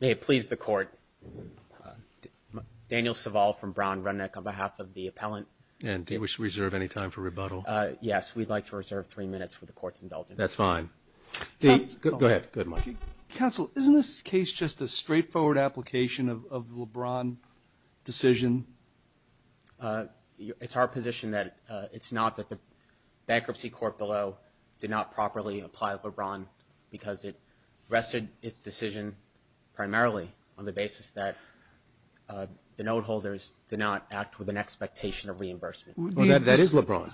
May it please the court, Daniel Saval from Brown Runneck on behalf of the appellant. And do we reserve any time for rebuttal? Yes, we'd like to reserve three minutes for the court's indulgence. That's fine. Go ahead. Counsel, isn't this case just a straightforward application of LeBron decision? It's our position that it's not that the bankruptcy court below did not properly apply LeBron because it rested its decision primarily on the basis that the note holders did not act with an expectation of reimbursement. That is LeBron.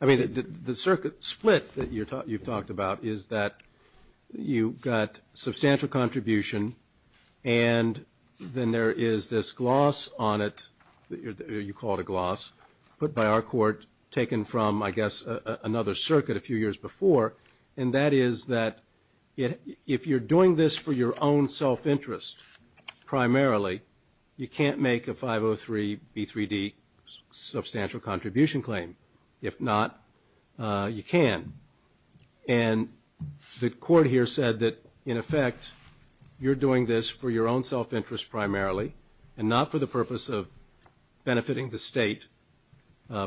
I mean, the circuit split that you've talked about is that you got substantial contribution and then there is this gloss on it, you call it a gloss, put by our court, taken from, I guess, another circuit a few years before. And that is that if you're doing this for your own self-interest primarily, you can't make a 503B3D substantial contribution claim. If not, you can. And the court here said that, in effect, you're doing this for your own self-interest primarily and not for the purpose of benefiting the state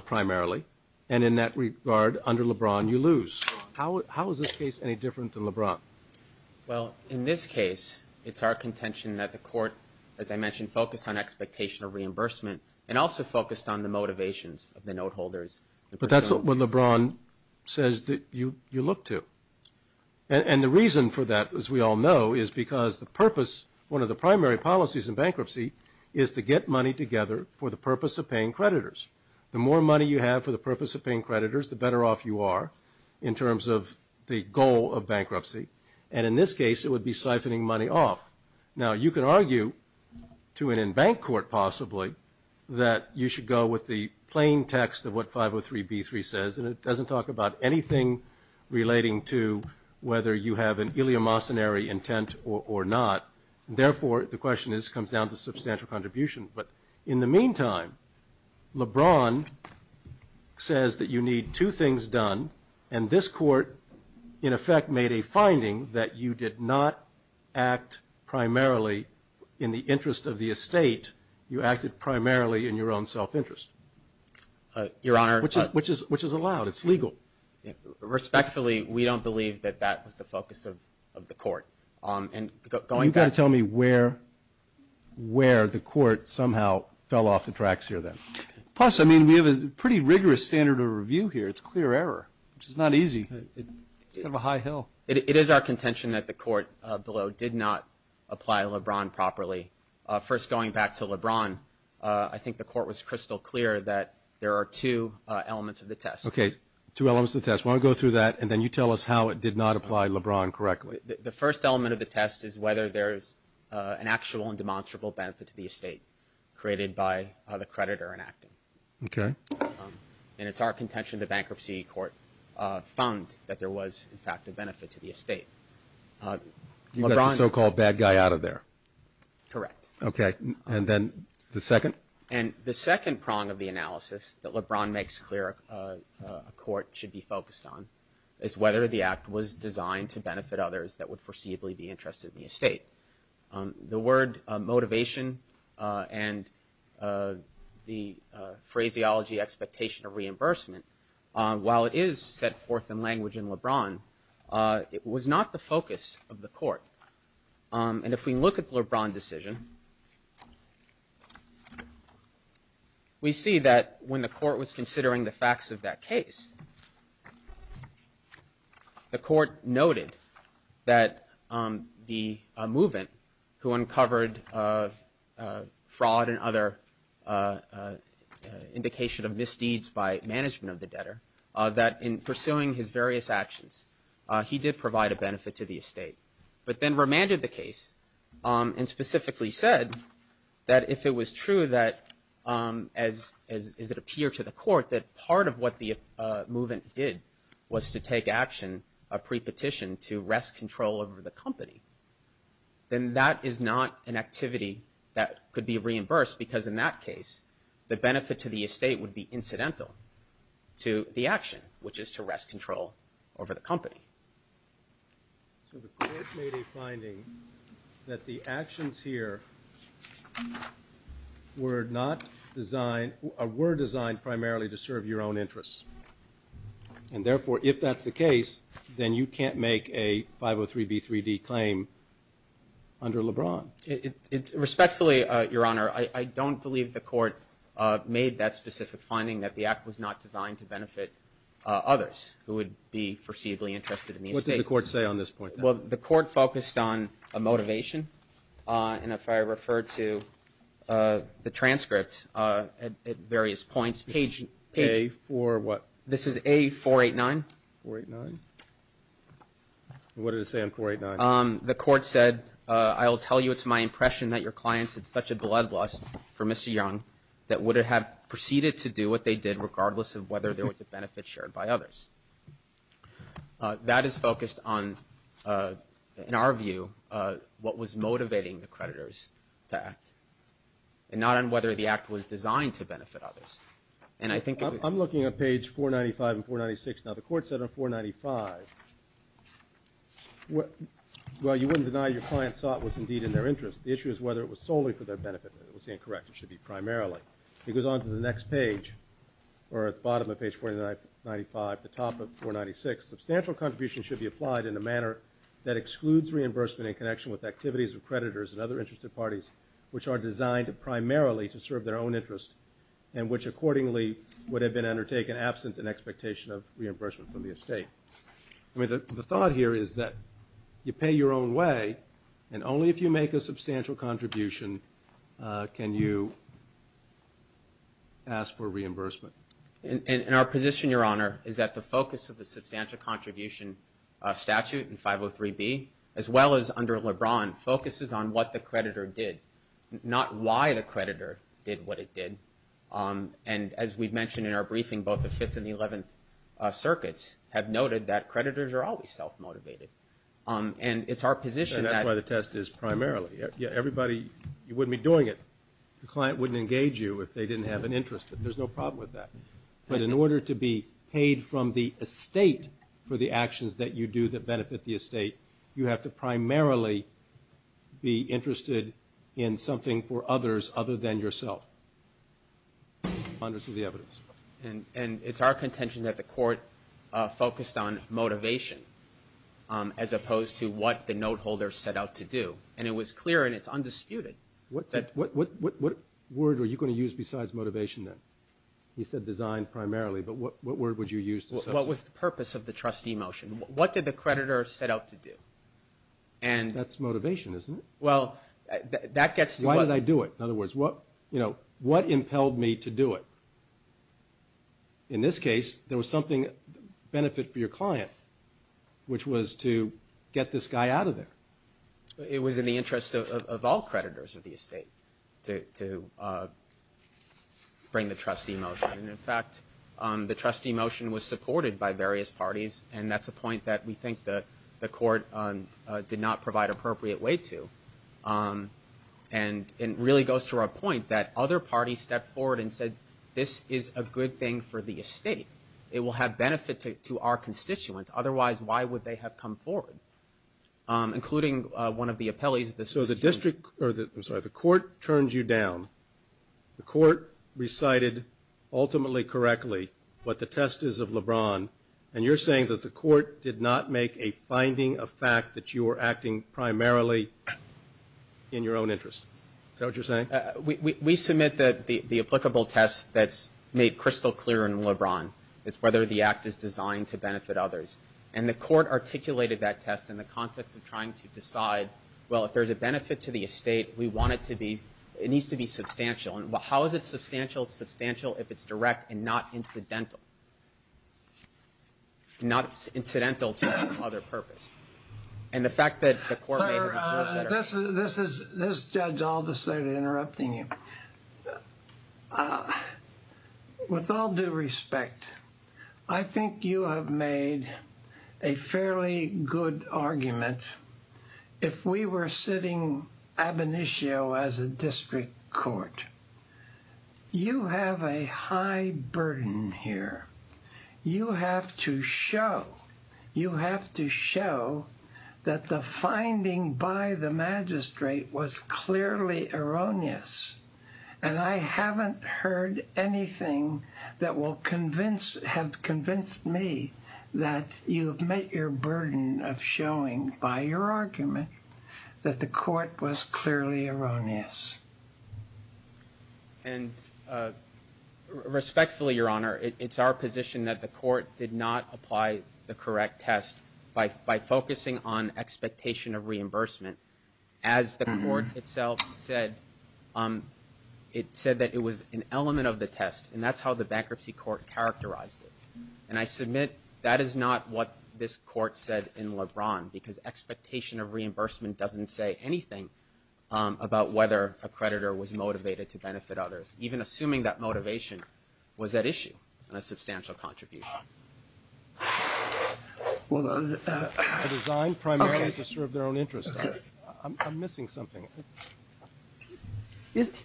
primarily. And in that regard, under LeBron, you lose. How is this case any different than LeBron? Well, in this case, it's our contention that the court, as I mentioned, focused on expectation of reimbursement and also focused on the motivations of the note holders. But that's what LeBron says that you look to. And the reason for that, as we all know, is because the purpose, one of the primary policies in bankruptcy is to get money together for the purpose of paying creditors. The more money you have for the purpose of paying creditors, the better off you are in terms of the goal of bankruptcy. And in this case, it would be siphoning money off. Now, you can argue to an in-bank court, possibly, that you should go with the plain text of what 503b3 says, and it doesn't talk about anything relating to whether you have an iliomocenary intent or not. Therefore, the question is it comes down to substantial contribution. But in the meantime, LeBron says that you need two things done, and this court, in effect, made a finding that you did not act primarily in the interest of the estate. You acted primarily in your own self-interest. Your Honor. Which is allowed. It's legal. Respectfully, we don't believe that that was the focus of the court. You've got to tell me where the court somehow fell off the tracks here, then. Plus, I mean, we have a pretty rigorous standard of review here. It's clear error, which is not easy. It's kind of a high hill. It is our contention that the court below did not apply LeBron properly. First, going back to LeBron, I think the court was crystal clear that there are two elements of the test. Okay. Two elements of the test. Why don't we go through that, and then you tell us how it did not apply LeBron correctly. The first element of the test is whether there is an actual and demonstrable benefit to the estate, created by the creditor enacting. Okay. And it's our contention the bankruptcy court found that there was, in fact, a benefit to the estate. You got the so-called bad guy out of there. Correct. Okay. And then the second? And the second prong of the analysis that LeBron makes clear a court should be focused on is whether the act was designed to benefit others that would foreseeably be interested in the estate. The word motivation and the phraseology expectation of reimbursement, while it is set forth in language in LeBron, it was not the focus of the court. And if we look at the LeBron decision, we see that when the court was considering the facts of that case, the court noted that the movement who uncovered fraud and other indication of misdeeds by management of the debtor, that in pursuing his various actions, he did provide a benefit to the estate. But then remanded the case and specifically said that if it was true that, as it appeared to the court, that part of what the movement did was to take action, a pre-petition to rest control over the company, then that is not an activity that could be reimbursed because in that case, the benefit to the estate would be incidental to the action, which is to rest control over the company. So the court made a finding that the actions here were not designed, were designed primarily to serve your own interests. And therefore, if that's the case, then you can't make a 503B3D claim under LeBron. Respectfully, Your Honor, I don't believe the court made that specific finding that the act was not designed to benefit others who would be foreseeably interested in the estate. What did the court say on this point? Well, the court focused on a motivation. And if I refer to the transcript at various points, page – A-4 what? This is A-489. 489? What did it say on 489? The court said, I will tell you it's my impression that your clients had such a bloodlust for Mr. Young that would have proceeded to do what they did regardless of whether there was a benefit shared by others. That is focused on, in our view, what was motivating the creditors to act, and not on whether the act was designed to benefit others. And I think it would – I'm looking at page 495 and 496. Now, the court said on 495, well, you wouldn't deny your client saw it was indeed in their interest. The issue is whether it was solely for their benefit. It was incorrect. It should be primarily. It goes on to the next page, or at the bottom of page 495, the top of 496. Substantial contributions should be applied in a manner that excludes reimbursement in connection with activities of creditors and other interested parties which are designed primarily to serve their own interest and which accordingly would have been undertaken absent an expectation of reimbursement from the estate. I mean, the thought here is that you pay your own way, and only if you make a substantial contribution can you ask for reimbursement. And our position, Your Honor, is that the focus of the substantial contribution statute in 503B, as well as under LeBron, focuses on what the creditor did, not why the creditor did what it did. And as we've mentioned in our briefing, both the Fifth and the Eleventh Circuits have noted that creditors are always self-motivated. And it's our position that- And that's why the test is primarily. Everybody wouldn't be doing it. The client wouldn't engage you if they didn't have an interest. There's no problem with that. But in order to be paid from the estate for the actions that you do that benefit the estate, you have to primarily be interested in something for others other than yourself. Funders of the evidence. And it's our contention that the court focused on motivation, as opposed to what the note holder set out to do. And it was clear, and it's undisputed- What word were you going to use besides motivation then? You said design primarily, but what word would you use to- What was the purpose of the trustee motion? What did the creditor set out to do? That's motivation, isn't it? Well, that gets to- Why did I do it? In other words, what impelled me to do it? In this case, there was something- Benefit for your client, which was to get this guy out of there. It was in the interest of all creditors of the estate to bring the trustee motion. And, in fact, the trustee motion was supported by various parties, and that's a point that we think the court did not provide appropriate weight to. And it really goes to our point that other parties stepped forward and said, this is a good thing for the estate. It will have benefit to our constituents. Otherwise, why would they have come forward? Including one of the appellees- So the court turns you down. The court recited ultimately correctly what the test is of LeBron, and you're saying that the court did not make a finding of fact that you were acting primarily in your own interest. Is that what you're saying? We submit that the applicable test that's made crystal clear in LeBron is whether the act is designed to benefit others. And the court articulated that test in the context of trying to decide, well, if there's a benefit to the estate, we want it to be-it needs to be substantial. And how is it substantial? It's substantial if it's direct and not incidental. Not incidental to other purpose. And the fact that the court- Sir, this judge all decided interrupting you. With all due respect, I think you have made a fairly good argument. If we were sitting ab initio as a district court, you have a high burden here. You have to show-you have to show that the finding by the magistrate was clearly erroneous. And I haven't heard anything that will convince-have convinced me that you've met your burden of showing by your argument that the court was clearly erroneous. And respectfully, Your Honor, it's our position that the court did not apply the correct test by focusing on expectation of reimbursement. As the court itself said, it said that it was an element of the test, and that's how the bankruptcy court characterized it. And I submit that is not what this court said in LeBron, because expectation of reimbursement doesn't say anything about whether a creditor was motivated to benefit others, even assuming that motivation was at issue in a substantial contribution. Well, the design primarily is to serve their own interest. I'm missing something. Isn't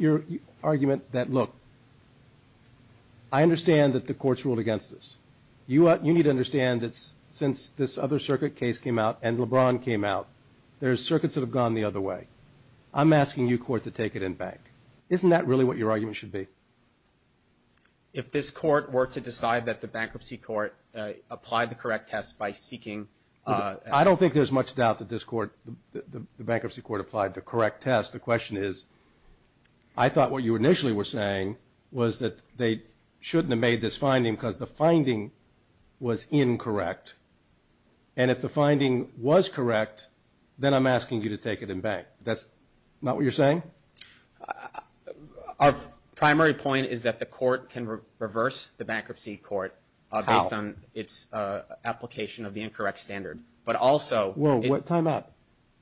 your argument that, look, I understand that the court's ruled against this. You need to understand that since this other circuit case came out and LeBron came out, there's circuits that have gone the other way. I'm asking you, court, to take it in back. Isn't that really what your argument should be? If this court were to decide that the bankruptcy court applied the correct test by seeking- I don't think there's much doubt that this court-the bankruptcy court applied the correct test. The question is, I thought what you initially were saying was that they shouldn't have made this finding because the finding was incorrect. And if the finding was correct, then I'm asking you to take it in back. That's not what you're saying? Our primary point is that the court can reverse the bankruptcy court- How? Based on its application of the incorrect standard. But also- Whoa, time out.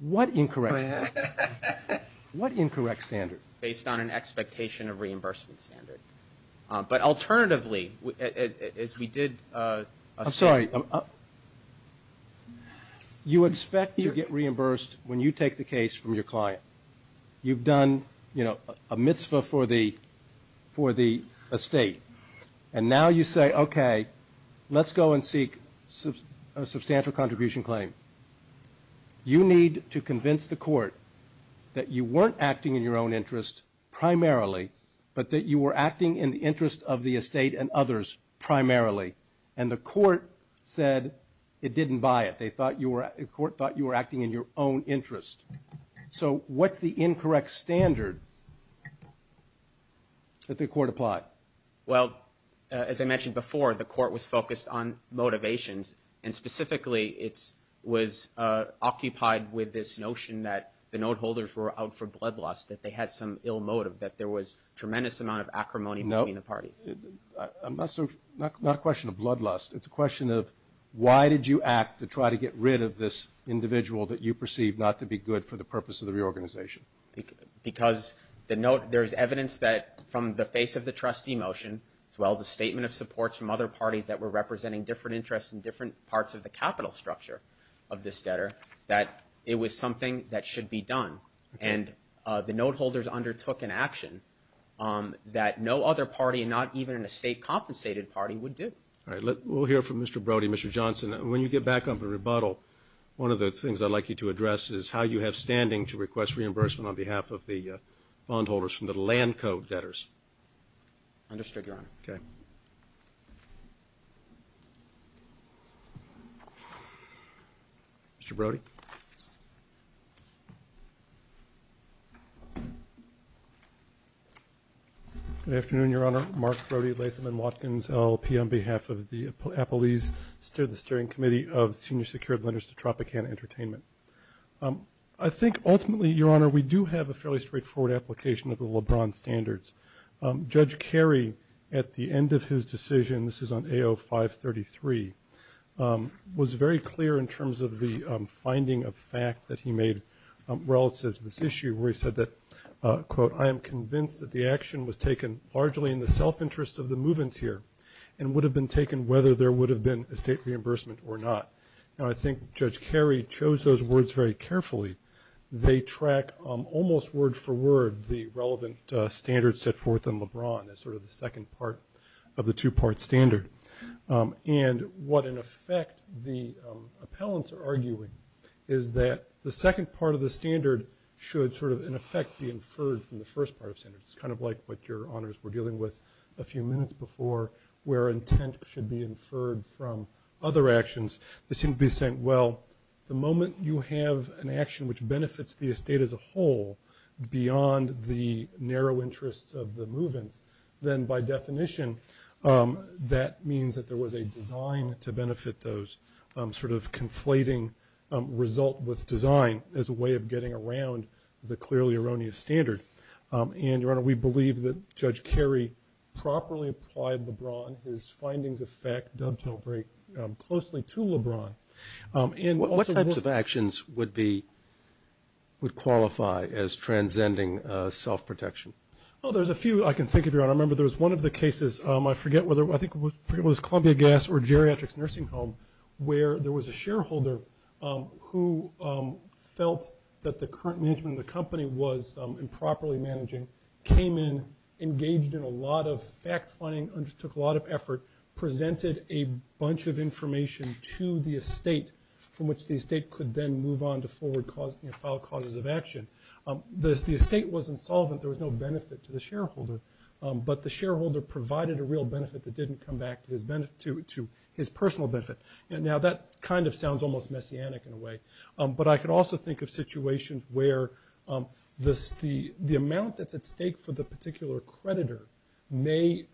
What incorrect standard? What incorrect standard? Based on an expectation of reimbursement standard. But alternatively, as we did- I'm sorry. You expect to get reimbursed when you take the case from your client. You've done a mitzvah for the estate. And now you say, okay, let's go and seek a substantial contribution claim. You need to convince the court that you weren't acting in your own interest primarily, but that you were acting in the interest of the estate and others primarily. And the court said it didn't buy it. The court thought you were acting in your own interest. So what's the incorrect standard that the court applied? Well, as I mentioned before, the court was focused on motivations, and specifically it was occupied with this notion that the note holders were out for blood loss, that they had some ill motive, that there was tremendous amount of acrimony between the parties. Not a question of blood lust. It's a question of why did you act to try to get rid of this individual that you perceived not to be good for the purpose of the reorganization. Because the note, there's evidence that from the face of the trustee motion, as well as a statement of support from other parties that were representing different interests and different parts of the capital structure of this debtor, that it was something that should be done. And the note holders undertook an action that no other party, not even an estate compensated party, would do. All right. We'll hear from Mr. Brody, Mr. Johnson. When you get back on the rebuttal, one of the things I'd like you to address is how you have standing to request reimbursement on behalf of the bondholders from the land code debtors. Understood, Your Honor. Okay. Thank you. Mr. Brody. Good afternoon, Your Honor. Mark Brody, Latham & Watkins, LLP, on behalf of the Appalese Steering Committee of Senior Secured Lenders to Tropicana Entertainment. I think ultimately, Your Honor, we do have a fairly straightforward application of the LeBron standards. Judge Carey, at the end of his decision, this is on AO 533, was very clear in terms of the finding of fact that he made relative to this issue where he said that, quote, I am convinced that the action was taken largely in the self-interest of the move-in tier and would have been taken whether there would have been estate reimbursement or not. And I think Judge Carey chose those words very carefully. They track almost word-for-word the relevant standards set forth in LeBron as sort of the second part of the two-part standard. And what, in effect, the appellants are arguing is that the second part of the standard should sort of, in effect, be inferred from the first part of the standard. It's kind of like what Your Honors were dealing with a few minutes before, where intent should be inferred from other actions. They seem to be saying, well, the moment you have an action which benefits the estate as a whole, beyond the narrow interests of the move-ins, then, by definition, that means that there was a design to benefit those sort of conflating result with design as a way of getting around the clearly erroneous standard. And, Your Honor, we believe that Judge Carey properly applied LeBron, his findings of fact dovetail very closely to LeBron. What types of actions would qualify as transcending self-protection? Well, there's a few I can think of, Your Honor. I remember there was one of the cases, I forget whether it was Columbia Gas or Geriatrics Nursing Home, where there was a shareholder who felt that the current management of the company was improperly managing, came in, engaged in a lot of fact-finding, undertook a lot of effort, presented a bunch of information to the estate from which the estate could then move on to file causes of action. The estate wasn't solvent. There was no benefit to the shareholder. But the shareholder provided a real benefit that didn't come back to his personal benefit. Now, that kind of sounds almost messianic in a way. But I can also think of situations where the amount that's at stake for the particular creditor may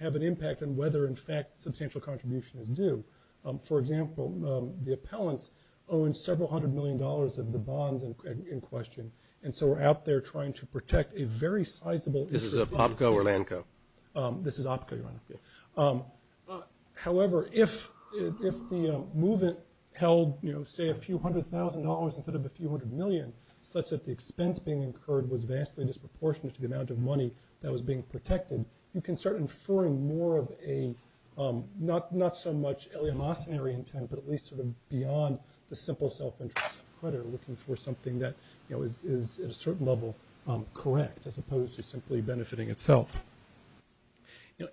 have an impact on whether, in fact, substantial contribution is due. For example, the appellants owned several hundred million dollars of the bonds in question, and so were out there trying to protect a very sizable estate. This is Opco or Lanco? This is Opco, Your Honor. However, if the movement held, say, a few hundred thousand dollars instead of a few hundred million, such that the expense being incurred was vastly disproportionate to the amount of money that was being protected, you can start inferring more of a, not so much eleemosynary intent, but at least sort of beyond the simple self-interest of the creditor, looking for something that is, at a certain level, correct, as opposed to simply benefiting itself.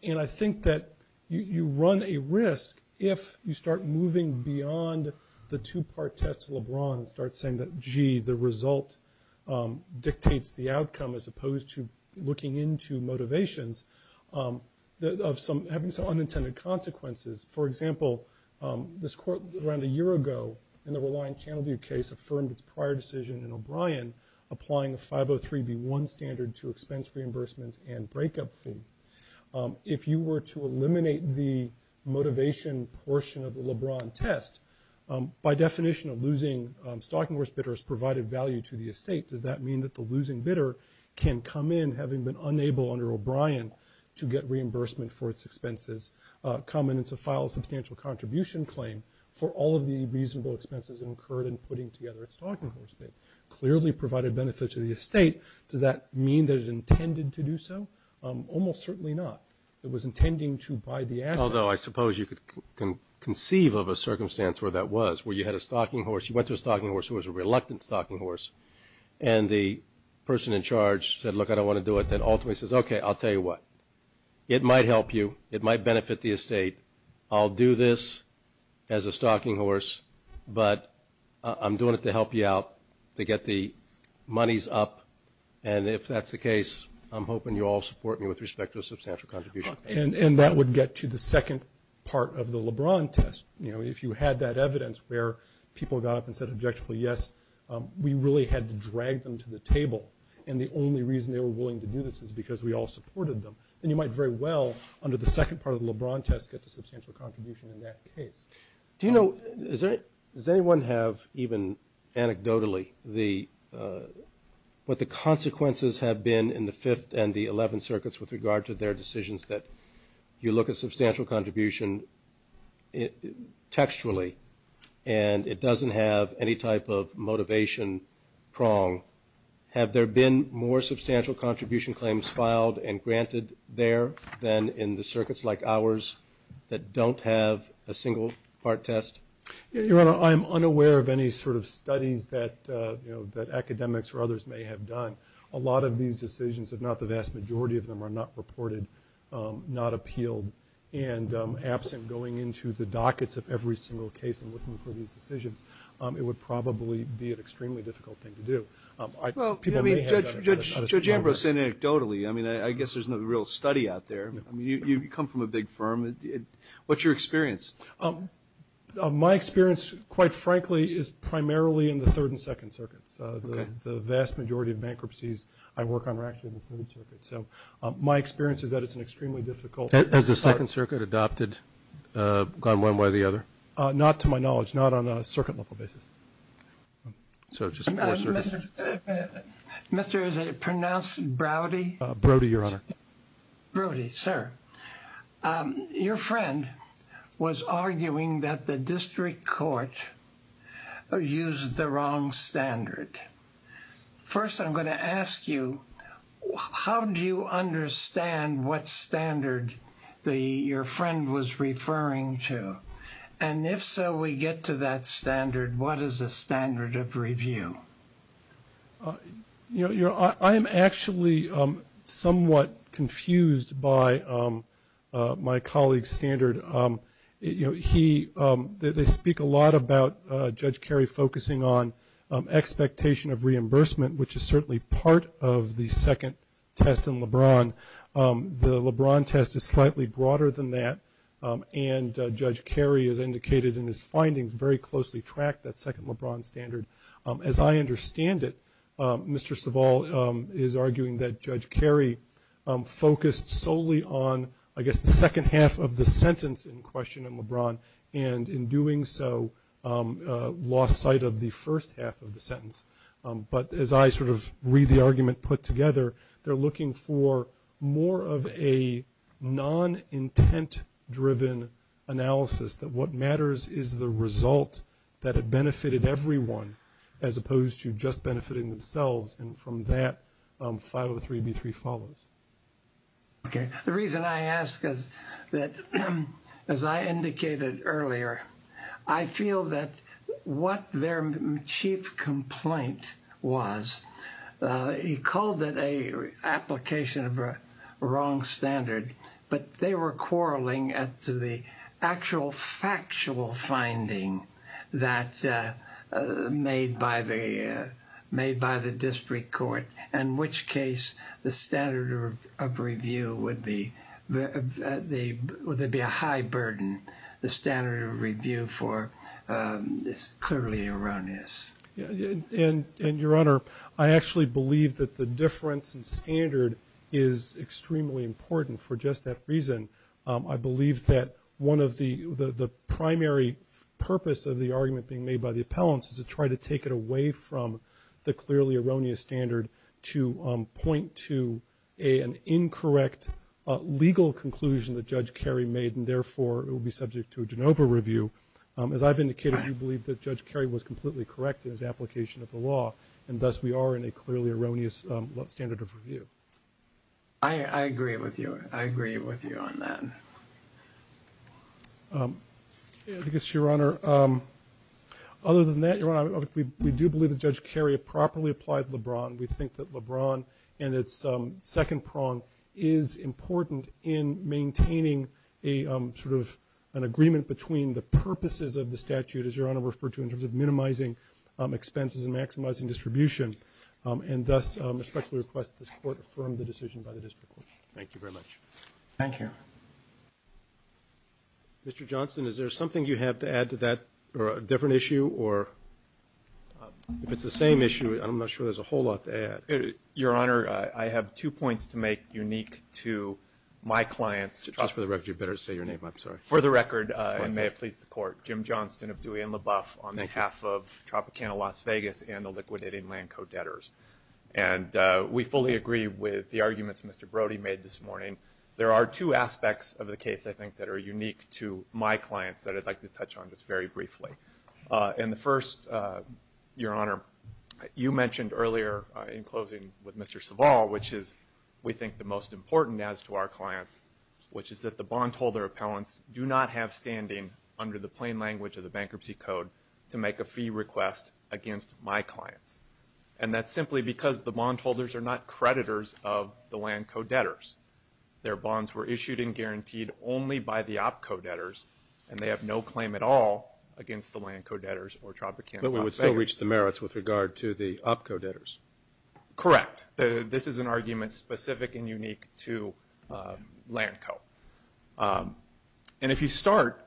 And I think that you run a risk if you start moving beyond the two-part test of LeBron and start saying that, gee, the result dictates the outcome, as opposed to looking into motivations of having some unintended consequences. For example, this court, around a year ago, in the Reliant-Channelview case, affirmed its prior decision in O'Brien, applying a 503B1 standard to expense reimbursement and breakup fee. If you were to eliminate the motivation portion of the LeBron test, by definition, a losing stocking horse bidder has provided value to the estate. Does that mean that the losing bidder can come in, having been unable under O'Brien to get reimbursement for its expenses, come in and file a substantial contribution claim for all of the reasonable expenses incurred in putting together a stocking horse bid? It clearly provided benefit to the estate. Does that mean that it intended to do so? Almost certainly not. It was intending to buy the assets. Although I suppose you can conceive of a circumstance where that was, where you had a stocking horse, you went to a stocking horse who was a reluctant stocking horse, and the person in charge said, look, I don't want to do it, then ultimately says, okay, I'll tell you what, it might help you, it might benefit the estate, I'll do this as a stocking horse, but I'm doing it to help you out to get the monies up, and if that's the case, I'm hoping you all support me with respect to a substantial contribution. And that would get to the second part of the LeBron test. You know, if you had that evidence where people got up and said objectively, yes, we really had to drag them to the table, and the only reason they were willing to do this is because we all supported them, then you might very well, under the second part of the LeBron test, get a substantial contribution in that case. Do you know, does anyone have, even anecdotally, what the consequences have been in the Fifth and the Eleventh Circuits with regard to their decisions that you look at substantial contribution textually and it doesn't have any type of motivation prong? Have there been more substantial contribution claims filed and granted there than in the circuits like ours that don't have a single part test? Your Honor, I'm unaware of any sort of studies that academics or others may have done. A lot of these decisions, if not the vast majority of them, are not reported, not appealed, and absent going into the dockets of every single case and looking for these decisions, it would probably be an extremely difficult thing to do. Well, Judge Ambrose said anecdotally. I mean, I guess there's no real study out there. I mean, you come from a big firm. What's your experience? My experience, quite frankly, is primarily in the Third and Second Circuits. The vast majority of bankruptcies I work on are actually in the Third Circuit. So my experience is that it's an extremely difficult part. Has the Second Circuit adopted, gone one way or the other? Not to my knowledge. Not on a circuit level basis. So it's just four circuits. Mister, is it pronounced Brody? Brody, Your Honor. Brody, sir. Your friend was arguing that the district court used the wrong standard. First, I'm going to ask you, how do you understand what standard your friend was referring to? And if so, we get to that standard. What is the standard of review? You know, I am actually somewhat confused by my colleague's standard. You know, they speak a lot about Judge Carey focusing on expectation of reimbursement, which is certainly part of the second test in LeBron. The LeBron test is slightly broader than that, and Judge Carey has indicated in his findings, very closely tracked that second LeBron standard. As I understand it, Mister Savall is arguing that Judge Carey focused solely on, I guess, the second half of the sentence in question in LeBron, and in doing so lost sight of the first half of the sentence. But as I sort of read the argument put together, they're looking for more of a non-intent-driven analysis, that what matters is the result that had benefited everyone, as opposed to just benefiting themselves. And from that, 503B3 follows. Okay. The reason I ask is that, as I indicated earlier, I feel that what their chief complaint was, he called it an application of a wrong standard, but they were quarreling as to the actual factual finding that made by the district court, in which case the standard of review would be a high burden. The standard of review is clearly erroneous. And, Your Honor, I actually believe that the difference in standard is extremely important for just that reason. I believe that one of the primary purpose of the argument being made by the appellants is to try to take it away from the clearly erroneous standard to point to an incorrect legal conclusion that Judge Carey made, and therefore it will be subject to a de novo review. As I've indicated, we believe that Judge Carey was completely correct in his application of the law, and thus we are in a clearly erroneous standard of review. I agree with you. I agree with you on that. I guess, Your Honor, other than that, Your Honor, we do believe that Judge Carey properly applied LeBron. We think that LeBron and its second prong is important in maintaining a sort of agreement between the purposes of the statute, as Your Honor referred to, in terms of minimizing expenses and maximizing distribution, and thus respectfully request that this Court affirm the decision by the district court. Thank you very much. Thank you. Mr. Johnston, is there something you have to add to that or a different issue? Or if it's the same issue, I'm not sure there's a whole lot to add. Your Honor, I have two points to make unique to my clients. Just for the record, you better say your name. I'm sorry. For the record, and may it please the Court, I'm Jim Johnston of Dewey and LaBeouf on behalf of Tropicana Las Vegas and the liquidating land co-debtors. And we fully agree with the arguments Mr. Brody made this morning. There are two aspects of the case, I think, that are unique to my clients that I'd like to touch on just very briefly. And the first, Your Honor, you mentioned earlier in closing with Mr. Savall, which is we think the most important as to our clients, which is that the bondholder appellants do not have standing under the plain language of the Bankruptcy Code to make a fee request against my clients. And that's simply because the bondholders are not creditors of the land co-debtors. Their bonds were issued and guaranteed only by the op-co-debtors, and they have no claim at all against the land co-debtors or Tropicana Las Vegas. But we would still reach the merits with regard to the op-co-debtors. Correct. This is an argument specific and unique to land co-debtors. And if you start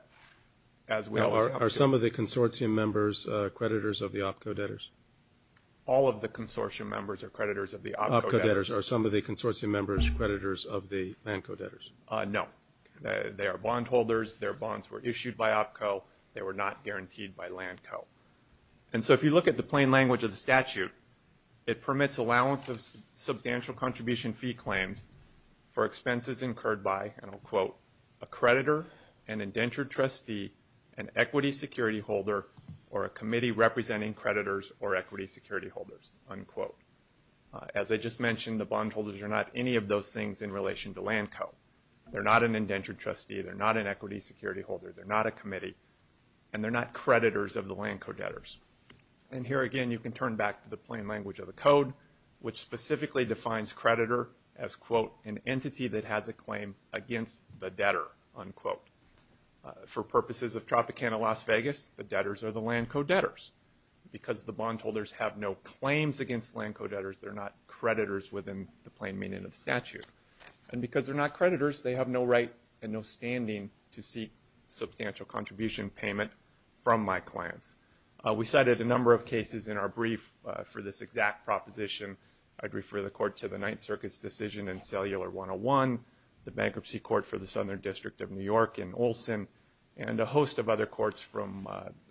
as we always have to. Are some of the consortium members creditors of the op-co-debtors? All of the consortium members are creditors of the op-co-debtors. Op-co-debtors. Are some of the consortium members creditors of the land co-debtors? No. They are bondholders. Their bonds were issued by op-co. They were not guaranteed by land co. And so if you look at the plain language of the statute, it permits allowance of substantial contribution fee claims for expenses incurred by, and I'll quote, a creditor, an indentured trustee, an equity security holder, or a committee representing creditors or equity security holders, unquote. As I just mentioned, the bondholders are not any of those things in relation to land co. They're not an indentured trustee. They're not an equity security holder. They're not a committee. And they're not creditors of the land co-debtors. And here, again, you can turn back to the plain language of the code, which specifically defines creditor as, quote, an entity that has a claim against the debtor, unquote. For purposes of Tropicana Las Vegas, the debtors are the land co-debtors. Because the bondholders have no claims against land co-debtors, they're not creditors within the plain meaning of the statute. And because they're not creditors, they have no right and no standing to seek substantial contribution payment from my clients. We cited a number of cases in our brief for this exact proposition. I'd refer the court to the Ninth Circuit's decision in Cellular 101, the Bankruptcy Court for the Southern District of New York in Olson, and a host of other courts from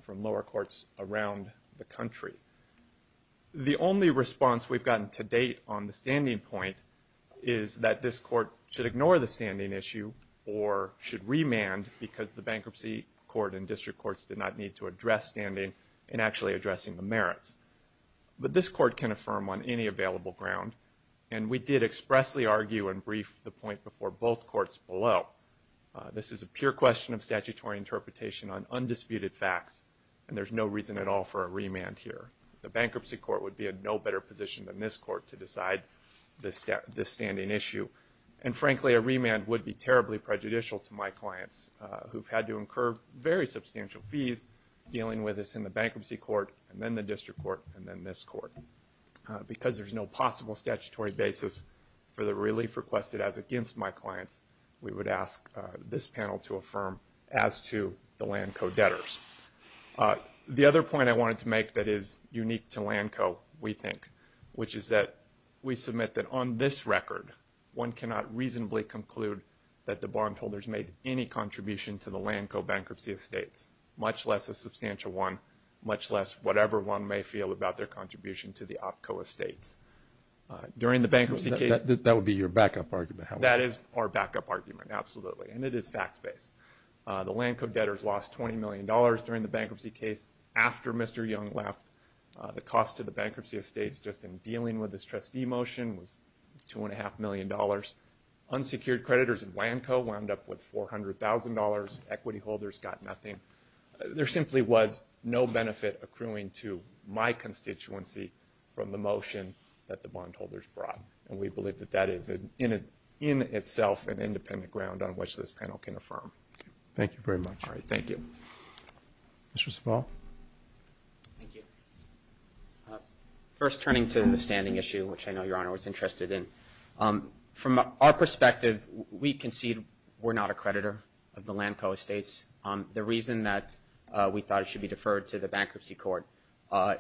lower courts around the country. The only response we've gotten to date on the standing point is that this court should ignore the standing issue or should remand because the Bankruptcy Court and district courts did not need to address standing in actually addressing the merits. But this court can affirm on any available ground, and we did expressly argue and brief the point before both courts below. This is a pure question of statutory interpretation on undisputed facts, and there's no reason at all for a remand here. The Bankruptcy Court would be in no better position than this court to decide this standing issue. And frankly, a remand would be terribly prejudicial to my clients, who've had to incur very substantial fees dealing with this in the Bankruptcy Court and then the district court and then this court. Because there's no possible statutory basis for the relief requested as against my clients, we would ask this panel to affirm as to the LANCO debtors. The other point I wanted to make that is unique to LANCO, we think, which is that we submit that on this record, one cannot reasonably conclude that the bondholders made any contribution to the LANCO bankruptcy estates, much less a substantial one, much less whatever one may feel about their contribution to the OPCO estates. During the bankruptcy case... That would be your backup argument. That is our backup argument, absolutely, and it is fact-based. The LANCO debtors lost $20 million during the bankruptcy case after Mr. Young left. The cost to the bankruptcy estates just in dealing with this trustee motion was $2.5 million. Unsecured creditors in LANCO wound up with $400,000. Equity holders got nothing. There simply was no benefit accruing to my constituency from the motion that the bondholders brought. And we believe that that is, in itself, an independent ground on which this panel can affirm. Thank you very much. All right, thank you. Mr. Small. Thank you. First, turning to the standing issue, which I know Your Honor was interested in, from our perspective, we concede we're not a creditor of the LANCO estates. The reason that we thought it should be deferred to the bankruptcy court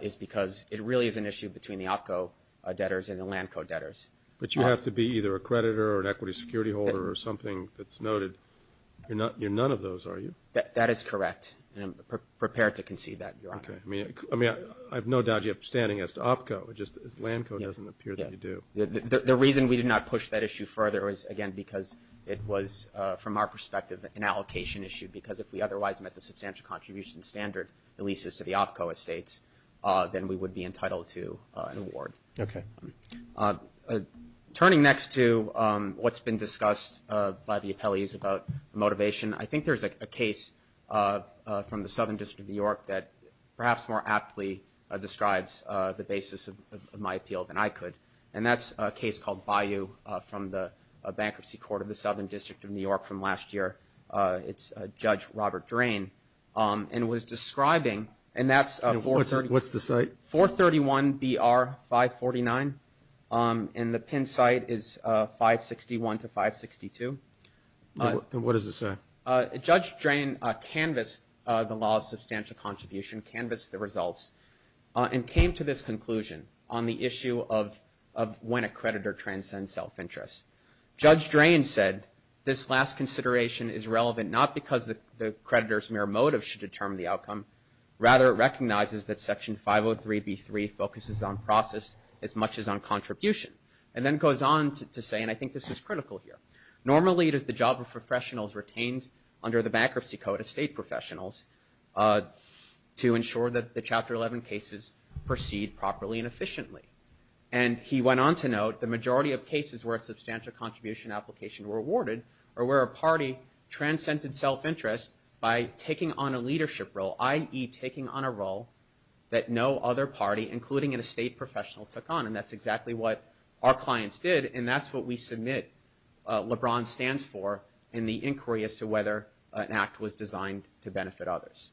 is because it really is an issue between the OPCO debtors and the LANCO debtors. But you have to be either a creditor or an equity security holder or something that's noted. You're none of those, are you? That is correct, and I'm prepared to concede that, Your Honor. Okay. I mean, I have no doubt you have standing as to OPCO. It's just that LANCO doesn't appear that you do. The reason we did not push that issue further is, again, because it was, from our perspective, an allocation issue, because if we otherwise met the substantial contribution standard, the leases to the OPCO estates, then we would be entitled to an award. Okay. Turning next to what's been discussed by the appellees about motivation, I think there's a case from the Southern District of New York that perhaps more aptly describes the basis of my appeal than I could, and that's a case called Bayou from the Bankruptcy Court of the Southern District of New York from last year. It's Judge Robert Drain, and was describing, and that's 431- What's the site? 431-BR-549, and the PIN site is 561-562. What does it say? Judge Drain canvassed the law of substantial contribution, canvassed the results, and came to this conclusion on the issue of when a creditor transcends self-interest. Judge Drain said this last consideration is relevant not because the creditor's mere motive should determine the outcome, rather it recognizes that Section 503B3 focuses on process as much as on contribution, and then goes on to say, and I think this is critical here, normally it is the job of professionals retained under the Bankruptcy Code as state professionals to ensure that the Chapter 11 cases proceed properly and efficiently, and he went on to note the majority of cases where a substantial contribution application were awarded or where a party transcended self-interest by taking on a leadership role, i.e., taking on a role that no other party, including an estate professional, took on, and that's exactly what our clients did, and that's what we submit LeBron stands for in the inquiry as to whether an act was designed to benefit others.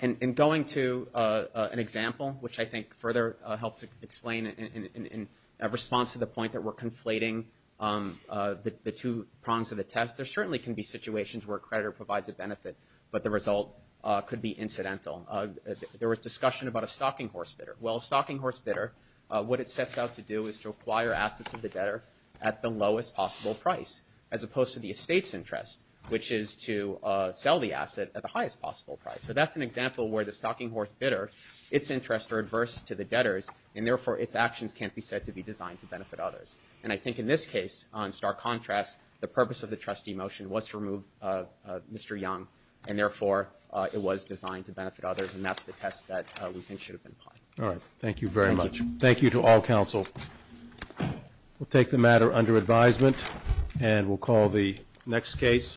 In going to an example, which I think further helps explain, in response to the point that we're conflating the two prongs of the test, there certainly can be situations where a creditor provides a benefit, but the result could be incidental. There was discussion about a stocking horse bidder. Well, a stocking horse bidder, what it sets out to do is to acquire assets of the debtor at the lowest possible price, as opposed to the estate's interest, which is to sell the asset at the highest possible price. So that's an example where the stocking horse bidder, its interests are adverse to the debtor's, and therefore its actions can't be said to be designed to benefit others. And I think in this case, in stark contrast, the purpose of the trustee motion was to remove Mr. Young, and therefore it was designed to benefit others, and that's the test that we think should have been applied. All right. Thank you very much. Thank you to all counsel. We'll take the matter under advisement, and we'll call the next case.